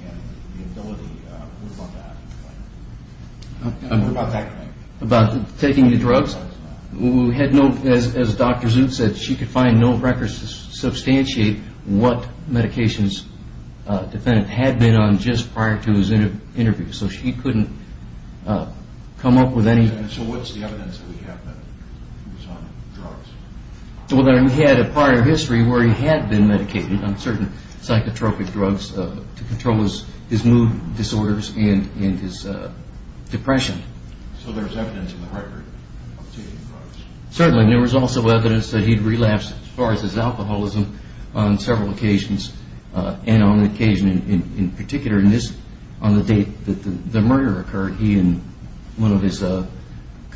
and the ability, what about that? About taking the drugs? We had no, as Dr. Zut said, she could find no records to substantiate what medications defendant had been on just prior to his interview. So she couldn't come up with any. So what's the evidence that we have that he was on drugs? Well, we had a prior history where he had been medicated on certain psychotropic drugs to control his mood disorders and his depression. So there's evidence in the record of taking drugs? Certainly. There was also evidence that he relapsed as far as his alcoholism on several occasions. And on occasion in particular, on the date that the murder occurred, he and one of his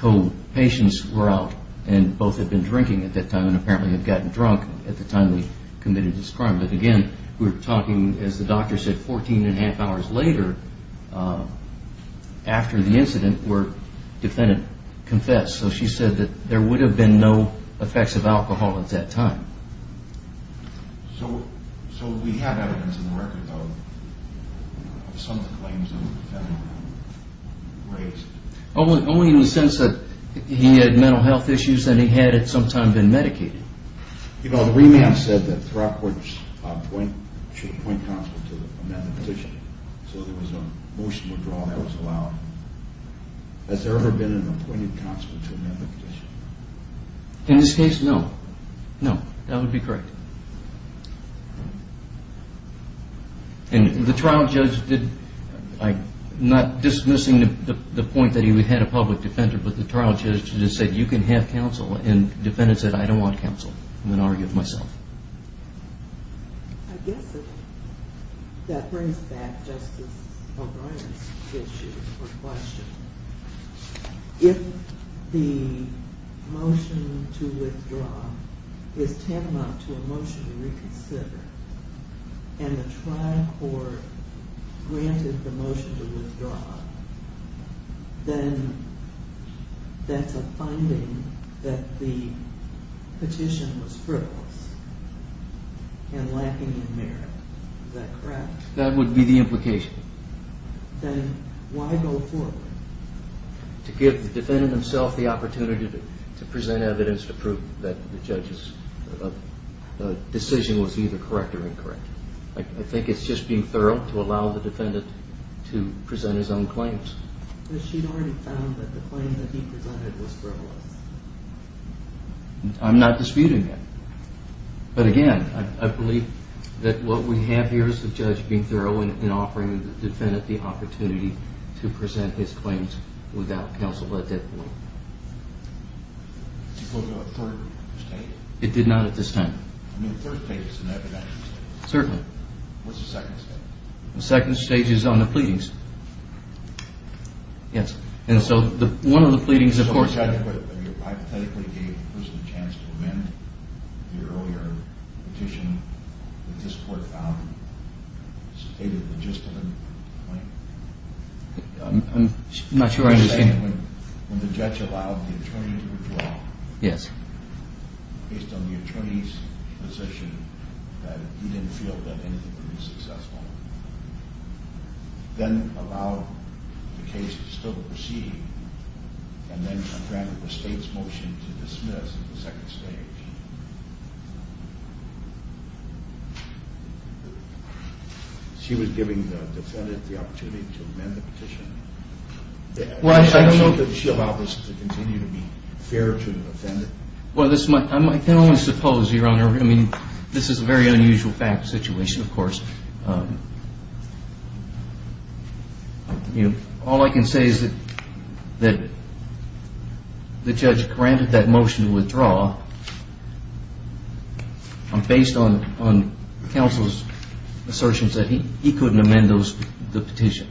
co-patients were out and both had been drinking at that time and apparently had gotten drunk at the time they committed this crime. But again, we're talking, as the doctor said, 14 and a half hours later after the incident where the defendant confessed. So she said that there would have been no effects of alcohol at that time. So we have evidence in the record of some of the claims the defendant raised? Only in the sense that he had mental health issues and he had at some time been medicated. You know, the remand said that Throckworth should appoint counsel to amend the petition. So there was a motion to withdraw and that was allowed. Has there ever been an appointed counsel to amend the petition? In this case, no. That would be correct. And the trial judge did, not dismissing the point that he had a public defender, but the trial judge just said, you can have counsel. And the defendant said, I don't want counsel. And then argued myself. I guess that brings back Justice O'Brien's issue or question. If the motion to withdraw is tantamount to a motion to reconsider and the trial court granted the motion to withdraw, then that's a finding that the petition was frivolous and lacking in merit. Is that correct? That would be the implication. Then why go forward? To give the defendant himself the opportunity to present evidence to prove that the judge's decision was either correct or incorrect. I think it's just being thorough to present his own claims. But she'd already found that the claim that he presented was frivolous. I'm not disputing that. But again, I believe that what we have here is the judge being thorough in offering the defendant the opportunity to present his claims without counsel at that point. Did you go to a third stage? It did not at this time. I mean, a third stage is an evidential stage. Certainly. What's the second stage? The second stage is on the pleadings. Yes. And so one of the pleadings, of course... So hypothetically gave the person a chance to amend the earlier petition that this court found stated the gist of the claim? I'm not sure I understand. When the judge allowed the attorney to withdraw based on the attorney's position that he didn't feel that anything would be successful, then allowed the case to still proceed, and then granted the state's motion to dismiss at the second stage. She was giving the defendant the opportunity to amend the petition? Well, I don't know that she allowed this to continue to be fair to the defendant. I can only suppose, Your Honor. I mean, this is a very unusual fact situation, of course. All I can say is that the judge granted that motion to withdraw based on counsel's assertions that he couldn't amend the petition.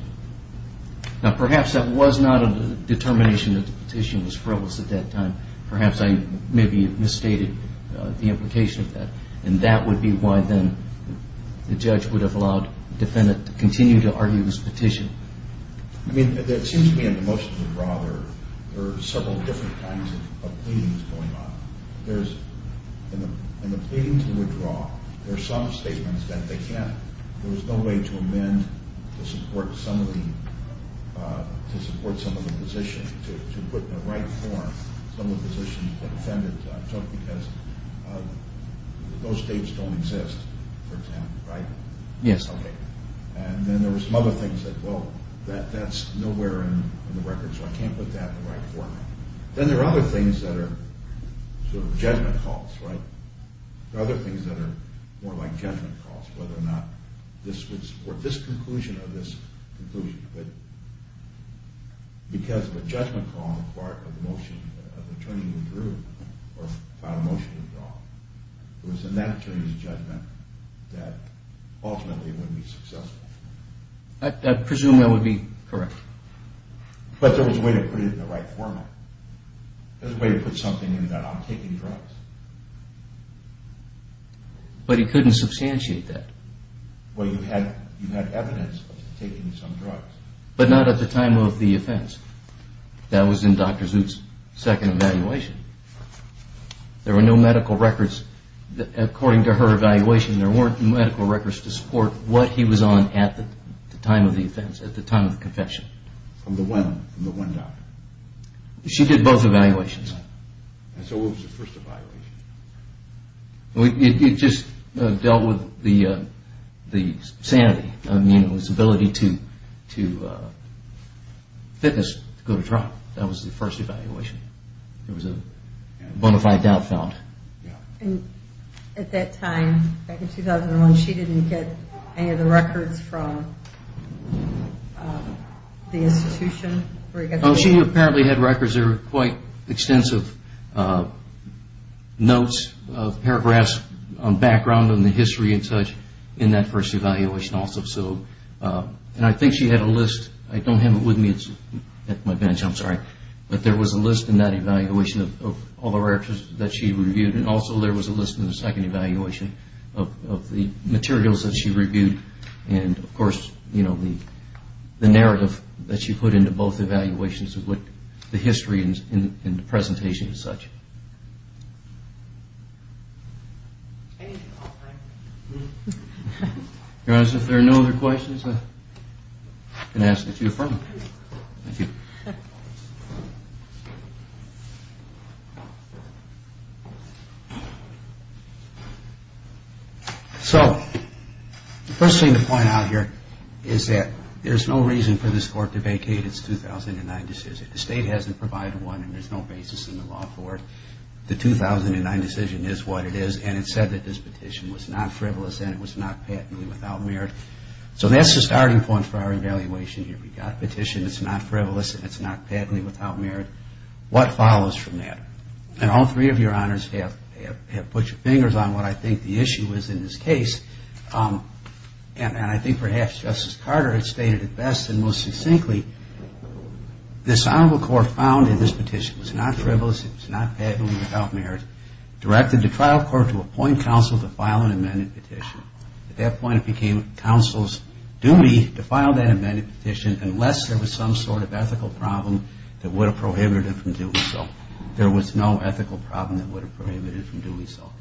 Now, perhaps that was not a determination that the petition was frivolous at that time. Perhaps I maybe misstated the implication of that. And that would be why, then, the judge would have allowed the defendant to continue to argue his petition. I mean, it seems to me in the motion to withdraw there are several different kinds of pleadings going on. In the pleading to withdraw, there are some statements that they can't there's no way to amend to support some of the positions, to put in the right form some of the positions the defendant took because those states don't exist, for example, right? Yes. Okay. And then there were some other things that, well, that's nowhere in the record, so I can't put that in the right format. Then there are other things that are sort of judgment calls, right? There are other things that are more like judgment calls, whether or not this would support this conclusion or this conclusion. But because of a judgment call on the part of the attorney who drew or found a motion to withdraw, it was in that attorney's judgment that ultimately they wouldn't be successful. I presume that would be correct. But there was a way to put it in the right format. There was a way to put something in that I'm taking drugs. But he couldn't substantiate that. Well, you had evidence of taking some drugs. But not at the time of the offense. That was in Dr. Zut's second evaluation. There were no medical records to support what he was on at the time of the offense, at the time of the confession. From the woman, from the one doctor? She did both evaluations. And so what was the first evaluation? It just dealt with the sanity, his ability to fitness to go to trial. That was the first evaluation. There was a time, back in 2001, she didn't get any of the records from the institution. She apparently had records. There were quite extensive notes, paragraphs on background and the history and such in that first evaluation also. And I think she had a list. I don't have it with me at my bench. I'm sorry. But there was a list in that evaluation of all the records that she reviewed. And also there was a list in the second evaluation of the materials that she reviewed. And of course, the narrative that she put into both evaluations of the history and the presentation and such. Anything else? Your Honor, if there are no other questions, I can ask that you affirm them. So the first thing to point out here is that there's no reason for this Court to vacate its 2009 decision. The State hasn't provided one and there's no basis in the law for it. The 2009 decision is what it is and it said that this petition was not frivolous and it was not patently without merit. So that's the starting point for our evaluation here. We've got a petition that's not frivolous and it's not patently without merit. What follows from that? And all three of your Honors have put your fingers on what I think the issue is in this case. And I think perhaps Justice Carter has stated it best and most succinctly, this Honorable Court found that this petition was not frivolous, it was not patently without merit, directed the trial court to appoint counsel to file an amended petition. At that point it became counsel's duty to file that amended petition unless there was some sort of ethical problem that would have prohibited it from doing so. There was no ethical problem that would have prohibited it from doing so.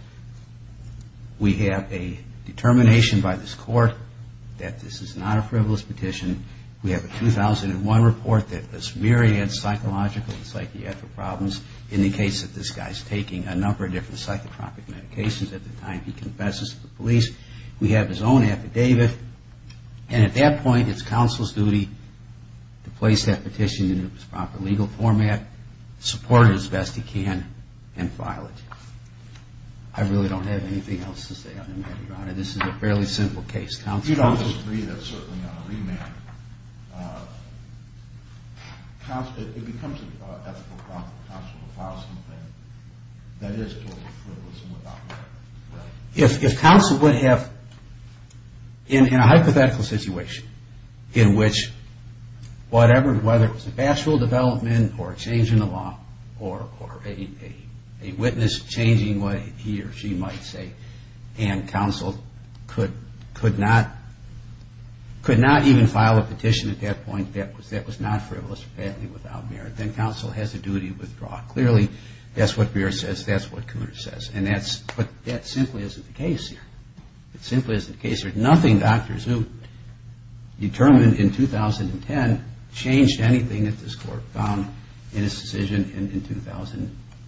We have a determination by this Court that this is not a frivolous petition. We have a 2001 report that this myriad of psychological and psychiatric problems indicates that this guy is taking a number of different psychotropic medications at the time he confesses to the police. We have his own affidavit. And at that point it's counsel's duty to place that petition in its proper legal format, support it as best he can, and file it. I really don't have anything else to say on the matter, Your Honor. This is a fairly simple case. If counsel would have, in a hypothetical situation, in which whatever, whether it was a pastoral development or a change in the law or a witness changing what he or she might say, and counsel could not even file a petition at that point, that was not frivolous or badly without merit, then counsel has a duty to withdraw. Clearly, that's what Beer says, that's what Cooner says. But that simply isn't the case here. It simply isn't the case. There's nothing, Dr. Zook, determined in 2009.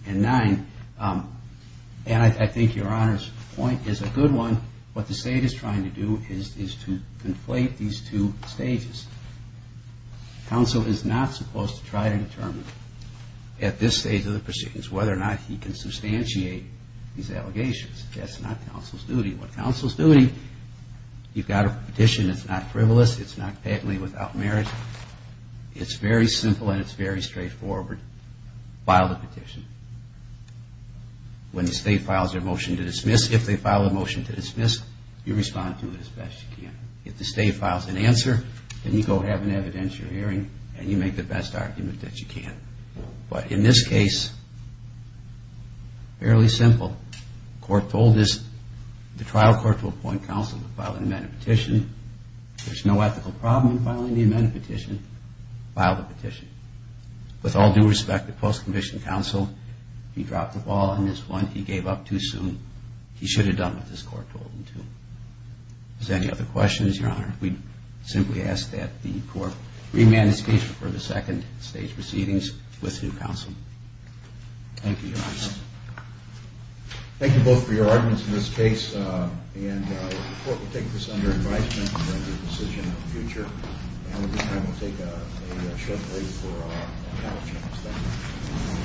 And I think Your Honor's point is a good one. What the state is trying to do is to conflate these two stages. Counsel is not supposed to try to determine at this stage of the proceedings whether or not he can substantiate these allegations. That's not counsel's duty. With counsel's duty, you've got a petition that's not frivolous, it's not badly without merit. It's very simple and it's very straightforward. File the petition. When the state files their motion to dismiss, if they file a motion to dismiss, you respond to it as best you can. If the state files an answer, then you go have an evidentiary hearing and you make the best argument that you can. But in this case, fairly simple. The court told the trial court to appoint counsel to file the amended petition. There's no ethical problem in filing the amended petition. File the petition. With all due respect, the post-conviction counsel, he dropped the ball on this one. He gave up too soon. He should have done what this court told him to. Is there any other questions, Your Honor? We simply ask that the court remand the speech for the second stage proceedings with new counsel. Thank you, Your Honor. Thank you both for your arguments in this case. The court will take this under advisement and make a decision in the future. And at this time, we'll take a short break for our panel discussion.